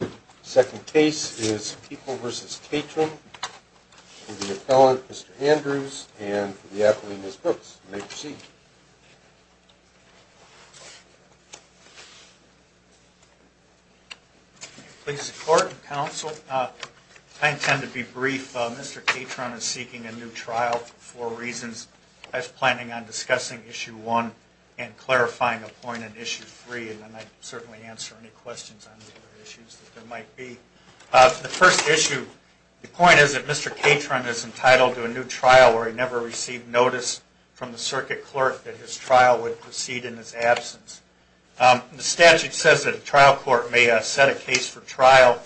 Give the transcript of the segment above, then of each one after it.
The second case is People v. Catron for the appellant, Mr. Andrews, and for the applicant, Ms. Brooks. You may proceed. Please support, counsel. I intend to be brief. Mr. Catron is seeking a new trial for reasons as planning on discussing Issue 1 and clarifying a point in Issue 3, and I'd certainly answer any questions on the other issues that there might be. For the first issue, the point is that Mr. Catron is entitled to a new trial where he never received notice from the circuit clerk that his trial would proceed in his absence. The statute says that a trial court may set a case for trial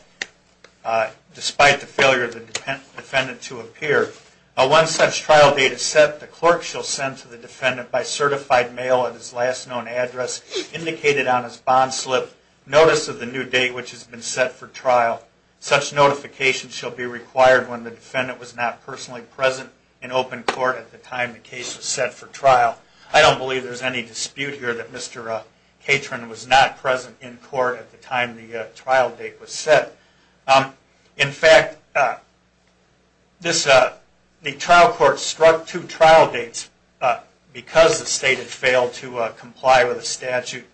despite the failure of the defendant to appear. When such trial date is set, the clerk shall send to the defendant by certified mail at his last known address, indicated on his bond slip, notice of the new date which has been set for trial. Such notification shall be required when the defendant was not personally present in open court at the time the case was set for trial. I don't believe there's any dispute here that Mr. Catron was not present in court at the time the trial date was set. In fact, the trial court struck two trial dates because the State had failed to comply with the statute.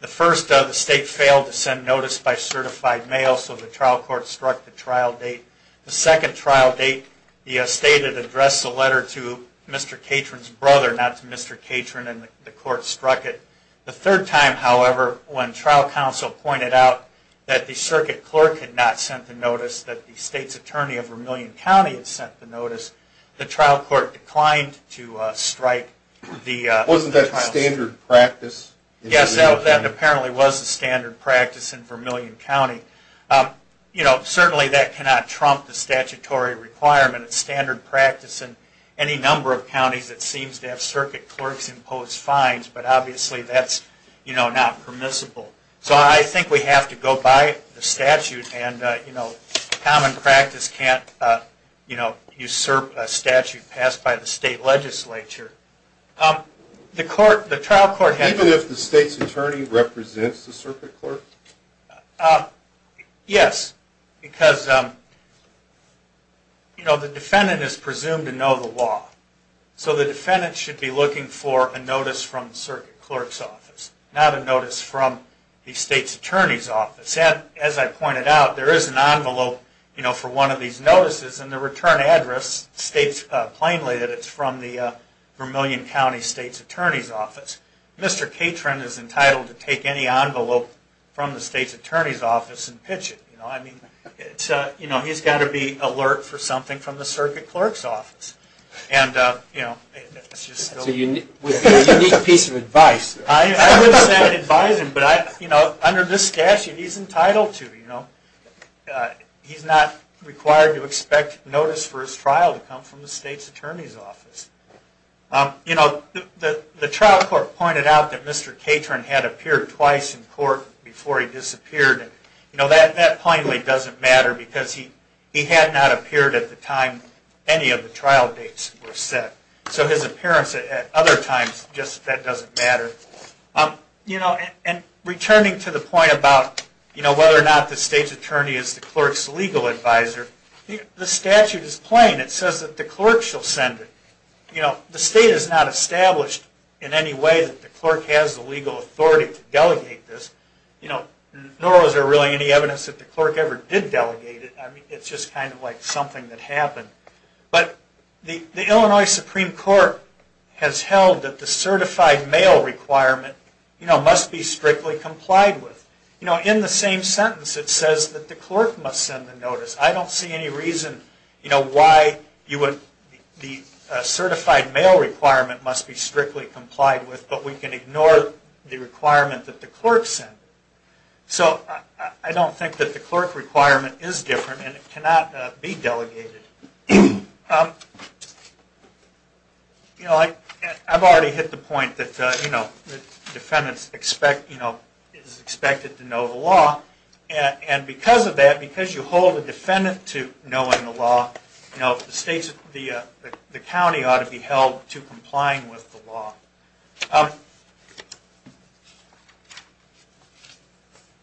The first, the State failed to send notice by certified mail, so the trial court struck the trial date. The second trial date, the State had addressed the letter to Mr. Catron's brother, not to Mr. Catron, and the court struck it. The third time, however, when trial counsel pointed out that the circuit clerk had not sent the notice, that the State's attorney of Vermilion County had sent the notice, the trial court declined to strike the trial date. Wasn't that standard practice? Yes, that apparently was the standard practice in Vermilion County. You know, certainly that cannot trump the statutory requirement. It's standard practice in any number of counties that seems to have circuit clerks impose fines, but obviously that's not permissible. So I think we have to go by the statute, and common practice can't usurp a statute passed by the State legislature. Even if the State's attorney represents the circuit clerk? Yes, because the defendant is presumed to know the law. So the defendant should be looking for a notice from the circuit clerk's office, not a notice from the State's attorney's office. As I pointed out, there is an envelope for one of these notices, and the return address states plainly that it's from the Vermilion County State's attorney's office. Mr. Catron is entitled to take any envelope from the State's attorney's office and pitch it. He's got to be alert for something from the circuit clerk's office. That's a unique piece of advice. I wouldn't say I'd advise him, but under this statute he's entitled to. He's not required to expect notice for his trial to come from the State's attorney's office. The trial court pointed out that Mr. Catron had appeared twice in court before he disappeared. That plainly doesn't matter because he had not appeared at the time any of the trial dates were set. So his appearance at other times just doesn't matter. Returning to the point about whether or not the State's attorney is the clerk's legal advisor, the statute is plain. It says that the clerk shall send it. The State has not established in any way that the clerk has the legal authority to delegate this, nor is there really any evidence that the clerk ever did delegate it. It's just kind of like something that happened. But the Illinois Supreme Court has held that the certified mail requirement must be strictly complied with. In the same sentence it says that the clerk must send the notice. I don't see any reason why the certified mail requirement must be strictly complied with, but we can ignore the requirement that the clerk send it. So I don't think that the clerk requirement is different and it cannot be delegated. I've already hit the point that defendants are expected to know the law, and because of that, because you hold a defendant to knowing the law, the county ought to be held to complying with the law.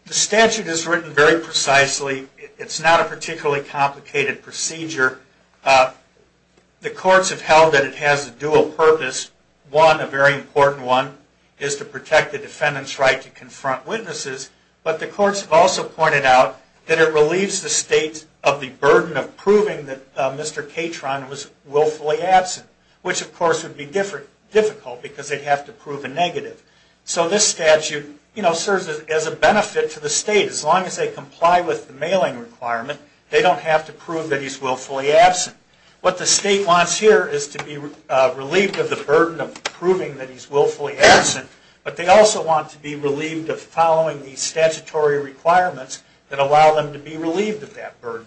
The statute is written very precisely. It's not a particularly complicated procedure. The courts have held that it has a dual purpose. One, a very important one, is to protect the defendant's right to confront witnesses, but the courts have also pointed out that it relieves the State of the burden of proving that Mr. Catron was willfully absent, which of course would be difficult because they'd have to prove a negative. So this statute serves as a benefit to the State. As long as they comply with the mailing requirement, they don't have to prove that he's willfully absent. What the State wants here is to be relieved of the burden of proving that he's willfully absent, but they also want to be relieved of following the statutory requirements that allow them to be relieved of that burden.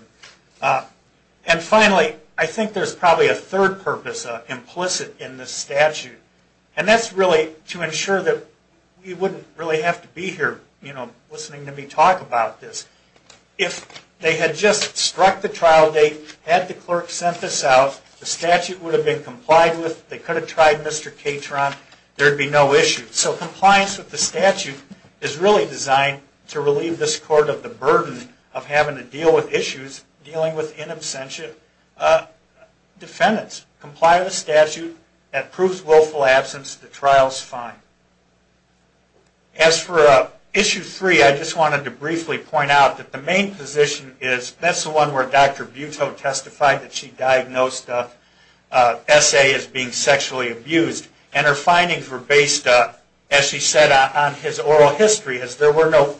And finally, I think there's probably a third purpose implicit in this statute, and that's really to ensure that we wouldn't really have to be here listening to me talk about this. If they had just struck the trial date, had the clerk sent this out, the statute would have been complied with, they could have tried Mr. Catron, there'd be no issue. So compliance with the statute is really designed to relieve this court of the burden of having to deal with issues dealing with in absentia defendants. Comply with the statute that proves willful absence, the trial's fine. As for issue three, I just wanted to briefly point out that the main position is, that's the one where Dr. Buto testified that she diagnosed S.A. as being sexually abused, and her findings were based, as she said, on his oral history, as there were no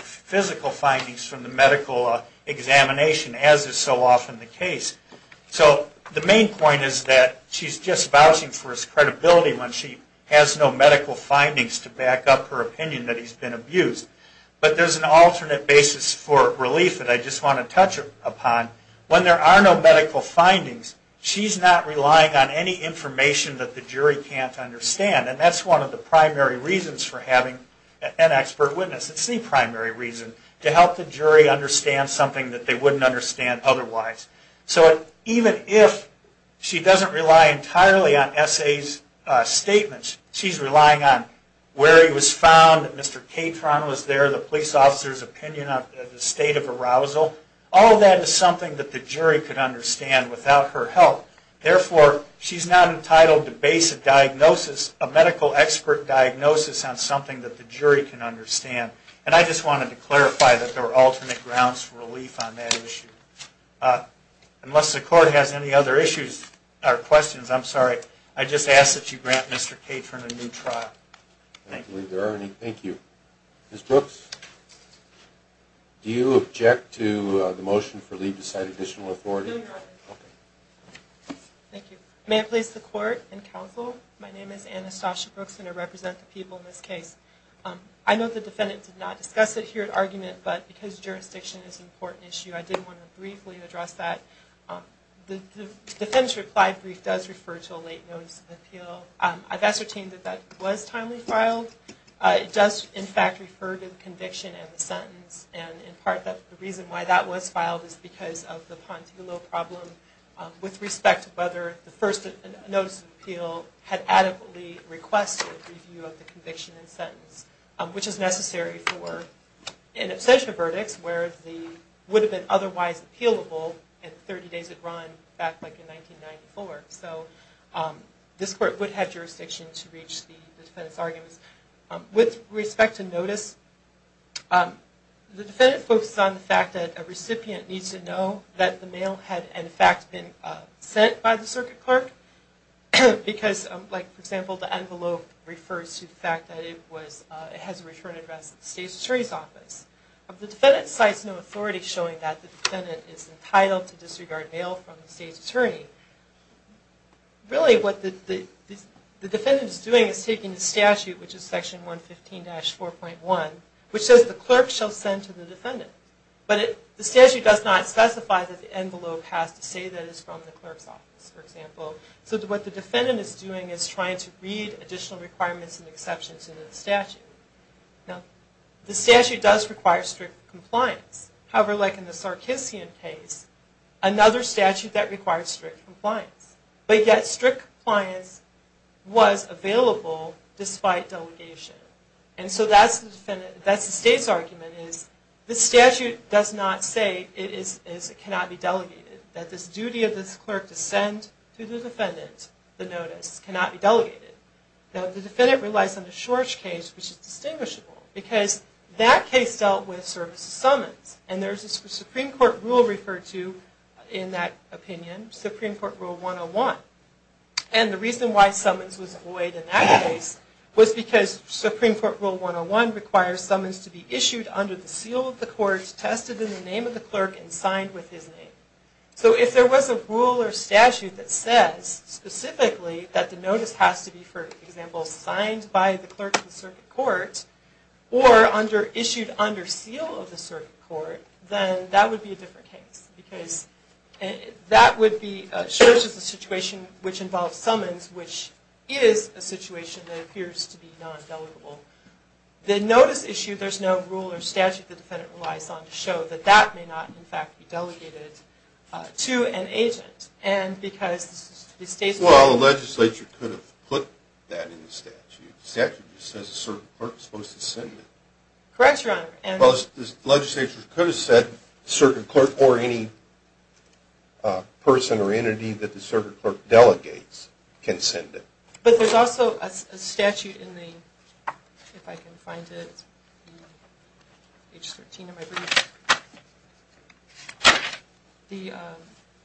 physical findings from the medical examination, as is so often the case. So the main point is that she's just vouching for his credibility when she has no medical findings to back up her opinion that he's been abused. But there's an alternate basis for relief that I just want to touch upon. When there are no medical findings, she's not relying on any information that the jury can't understand, and that's one of the primary reasons for having an expert witness. It's the primary reason, to help the jury understand something that they wouldn't understand otherwise. So even if she doesn't rely entirely on S.A.'s statements, she's relying on where he was found, that Mr. Catron was there, the police officer's opinion of the state of arousal, all of that is something that the jury could understand without her help. Therefore, she's not entitled to base a diagnosis, a medical expert diagnosis, on something that the jury can understand. And I just wanted to clarify that there are alternate grounds for relief on that issue. Unless the court has any other questions, I'm sorry, I just ask that you grant Mr. Catron a new trial. I don't believe there are any. Thank you. Ms. Brooks, do you object to the motion for leave to cite additional authority? Thank you. May I please the court and counsel? My name is Anastasia Brooks, and I represent the people in this case. I know the defendant did not discuss it here at argument, but because jurisdiction is an important issue, I did want to briefly address that. The defendant's reply brief does refer to a late notice of appeal. I've ascertained that that was timely filed. The reason why that was filed is because of the Pantelo problem with respect to whether the first notice of appeal had adequately requested a review of the conviction and sentence, which is necessary for an absentia verdict where it would have been otherwise appealable if 30 days had run back in 1994. So this court would have jurisdiction to reach the defendant's arguments. With respect to notice, the defendant focuses on the fact that a recipient needs to know that the mail had, in fact, been sent by the circuit clerk. Because, for example, the envelope refers to the fact that it has a return address at the state's attorney's office. If the defendant cites no authority showing that the defendant is entitled to disregard mail from the state's attorney, really what the defendant is doing is taking the statute, which is section 115-4.1, which says the clerk shall send to the defendant. But the statute does not specify that the envelope has to say that it's from the clerk's office, for example. So what the defendant is doing is trying to read additional requirements and exceptions in the statute. Now, the statute does require strict compliance. However, like in the Sarkissian case, another statute that requires strict compliance. But yet strict compliance was available despite delegation. And so that's the state's argument, is the statute does not say it cannot be delegated, that this duty of this clerk to send to the defendant the notice cannot be delegated. Now, the defendant relies on the Schorch case, which is distinguishable, because that case dealt with services summons. And there's a Supreme Court rule referred to in that opinion, Supreme Court Rule 101. And the reason why summons was void in that case was because Supreme Court Rule 101 requires summons to be issued under the seal of the court, tested in the name of the clerk, and signed with his name. So if there was a rule or statute that says specifically that the notice has to be, for example, signed by the clerk of the circuit court, or issued under seal of the circuit court, then that would be a different case. Because that would be Schorch's situation, which involves summons, which is a situation that appears to be non-delegable. The notice issue, there's no rule or statute that the defendant relies on to show that that may not, in fact, be delegated to an agent. Well, the legislature could have put that in the statute. The statute just says a circuit clerk is supposed to send it. Correct, Your Honor. Well, the legislature could have said a circuit clerk or any person or entity that the circuit clerk delegates can send it. But there's also a statute in the, if I can find it, H13 of my brief,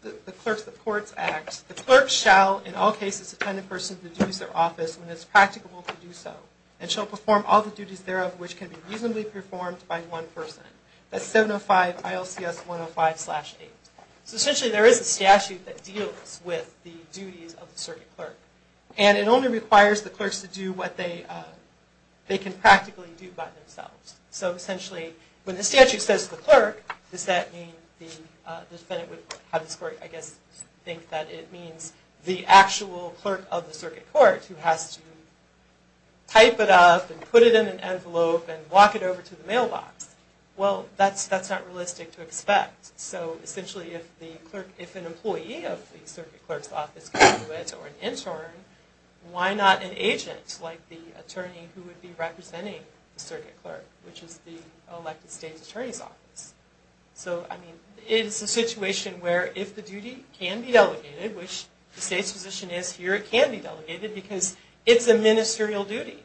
the Clerks of Courts Act. The clerk shall, in all cases, attend a person to the duties of their office when it is practicable to do so, and shall perform all the duties thereof which can be reasonably performed by one person. That's 705 ILCS 105-8. So, essentially, there is a statute that deals with the duties of the circuit clerk. And it only requires the clerks to do what they can practically do by themselves. So, essentially, when the statute says the clerk, does that mean the defendant would, I guess, think that it means the actual clerk of the circuit court who has to type it up and put it in an envelope and walk it over to the mailbox. Well, that's not realistic to expect. So, essentially, if an employee of the circuit clerk's office can do it, or an intern, why not an agent like the attorney who would be representing the circuit clerk, which is the elected state's attorney's office. So, I mean, it's a situation where if the duty can be delegated, which the state's position is here, it can be delegated because it's a ministerial duty.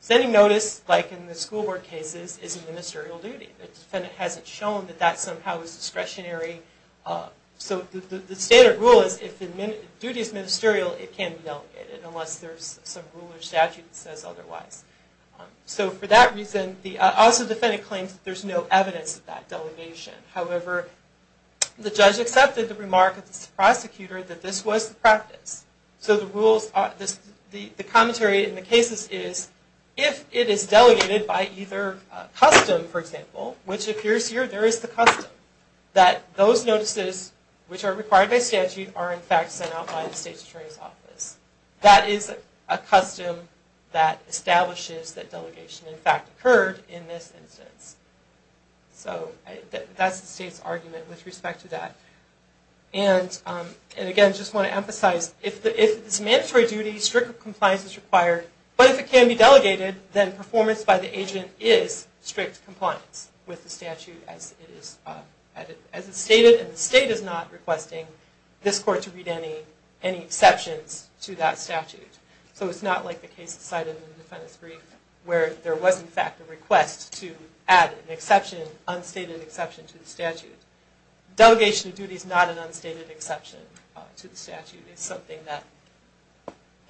Sending notice, like in the school board cases, is a ministerial duty. The defendant hasn't shown that that somehow is discretionary. So, the standard rule is if the duty is ministerial, it can be delegated, unless there's some rule or statute that says otherwise. So, for that reason, the office of the defendant claims that there's no evidence of that delegation. However, the judge accepted the remark of the prosecutor that this was the practice. So, the commentary in the cases is, if it is delegated by either custom, for example, which appears here, there is the custom, that those notices which are required by statute are in fact sent out by the state's attorney's office. That is a custom that establishes that delegation in fact occurred in this instance. So, that's the state's argument with respect to that. And again, I just want to emphasize, if it's a mandatory duty, strict compliance is required, but if it can be delegated, then performance by the agent is strict compliance with the statute as it's stated, and the state is not requesting this court to read any exceptions to that statute. So, it's not like the case cited in the defendant's brief, where there was in fact a request to add an exception, unstated exception, to the statute. Delegation of duty is not an unstated exception to the statute. It's something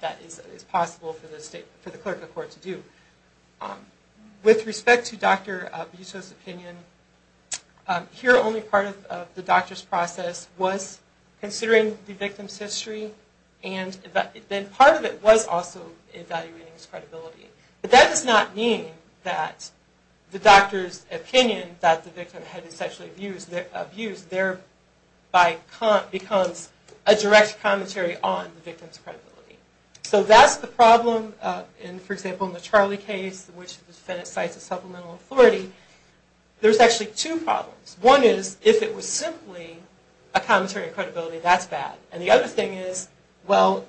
that is possible for the clerical court to do. With respect to Dr. Butto's opinion, here only part of the doctor's process was considering the victim's history, and then part of it was also evaluating his credibility. But that does not mean that the doctor's opinion that the victim had sexually abused thereby becomes a direct commentary on the victim's credibility. So, that's the problem, for example, in the Charlie case, in which the defendant cites a supplemental authority. There's actually two problems. One is, if it was simply a commentary on credibility, that's bad. And the other thing is, well,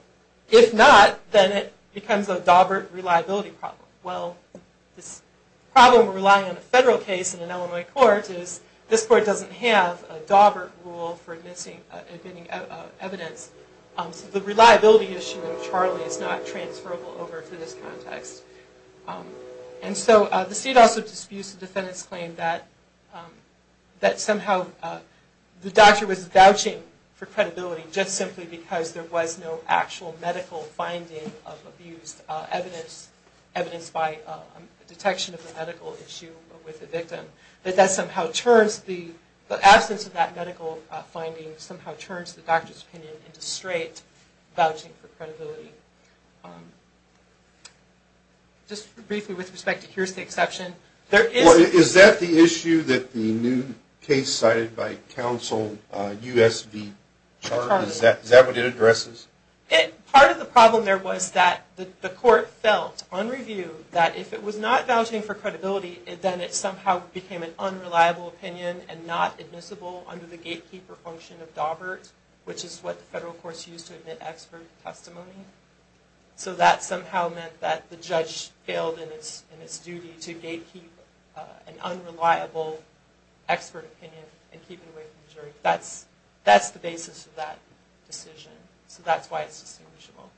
if not, then it becomes a Dawbert reliability problem. Well, this problem of relying on a federal case in an Illinois court is, this court doesn't have a Dawbert rule for admitting evidence, so the reliability issue of Charlie is not transferable over to this context. And so, the state also disputes the defendant's claim that somehow the doctor was vouching for credibility just simply because there was no actual medical finding of abused evidence, evidence by detection of the medical issue with the victim, that that somehow turns the absence of that medical finding somehow turns the doctor's opinion into straight vouching for credibility. Just briefly with respect to here's the exception, there is... Is it true that the new case cited by counsel, U.S. v. Charlie, is that what it addresses? Part of the problem there was that the court felt, on review, that if it was not vouching for credibility, then it somehow became an unreliable opinion and not admissible under the gatekeeper function of Dawbert, which is what the federal courts use to admit expert testimony. So that somehow meant that the judge failed in its duty to gatekeep an unreliable expert opinion and keep it away from the jury. That's the basis of that decision, so that's why it's distinguishable.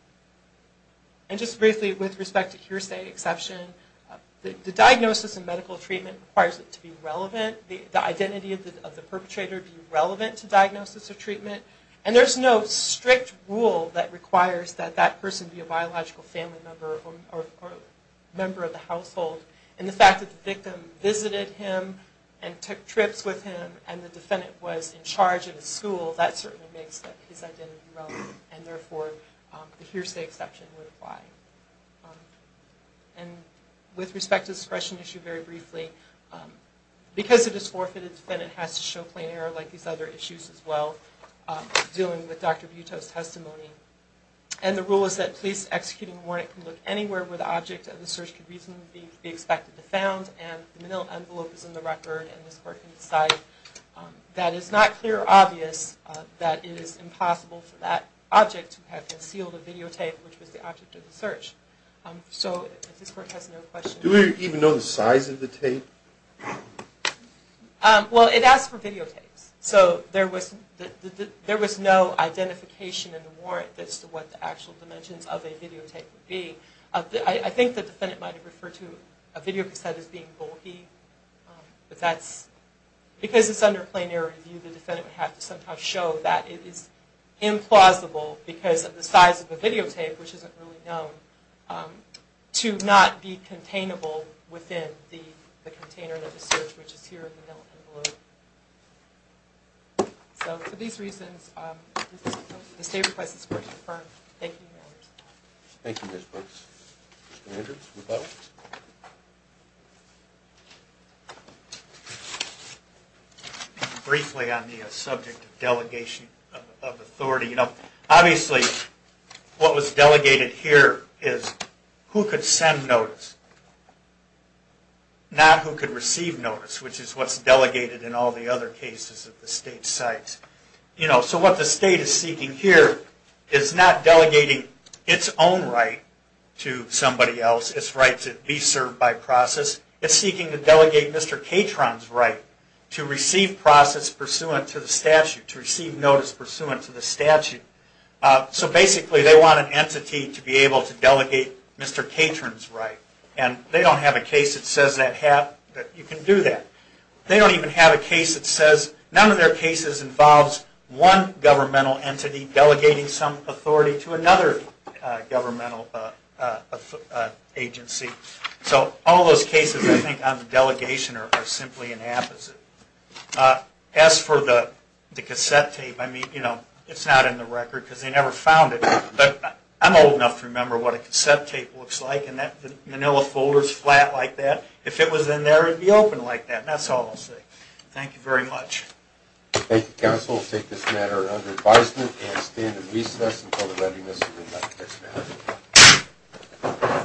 And just briefly with respect to here's the exception, the diagnosis and medical treatment requires it to be relevant, the identity of the perpetrator be relevant to diagnosis or treatment, that that person be a biological family member or member of the household, and the fact that the victim visited him and took trips with him and the defendant was in charge of his school, that certainly makes his identity relevant, and therefore the here's the exception would apply. And with respect to the suppression issue, very briefly, because it is forfeited, the defendant has to show plain error like these other issues as well, dealing with Dr. Butow's case. The rule is that police executing a warrant can look anywhere where the object of the search could reasonably be expected to be found, and the manila envelope is in the record and this court can decide. That is not clear or obvious, that it is impossible for that object to have concealed a videotape which was the object of the search. So this court has no question. Do we even know the size of the tape? Well, it asks for videotapes. So there was no identification in the warrant as to what the actual dimensions of a videotape would be. I think the defendant might have referred to a videotape set as being bulky, but that's because it's under plain error review, the defendant would have to somehow show that it is implausible because of the size of the videotape, which isn't really known, to not be containable within the container of the search, which is here in the manila envelope. So for these reasons, the state request is court-confirmed. Thank you, Your Honors. Thank you, Ms. Brooks. Mr. Andrews, with that one. Briefly on the subject of delegation of authority, you know, obviously what was delegated here is who could send notice, not who could receive notice, which is what's delegated in all the other cases at the state sites. You know, so what the state is seeking here is not delegating its own right to somebody else, its right to be served by process, it's seeking to delegate Mr. Catron's right to receive process pursuant to the statute, to receive notice pursuant to the statute. So basically they want an entity to be able to delegate Mr. Catron's right. And they don't have a case that says that you can do that. They don't even have a case that says none of their cases involves one governmental entity delegating some authority to another governmental agency. So all those cases, I think, on delegation are simply an opposite. As for the cassette tape, I mean, you know, it's not in the record because they never found it, but I'm old enough to remember what a cassette tape looks like and that manila folder is flat like that. If it was in there, it would be open like that. And that's all I'll say. Thank you very much. Thank you, counsel. We'll take this matter under advisement and stand in recess until the readiness of the next matter.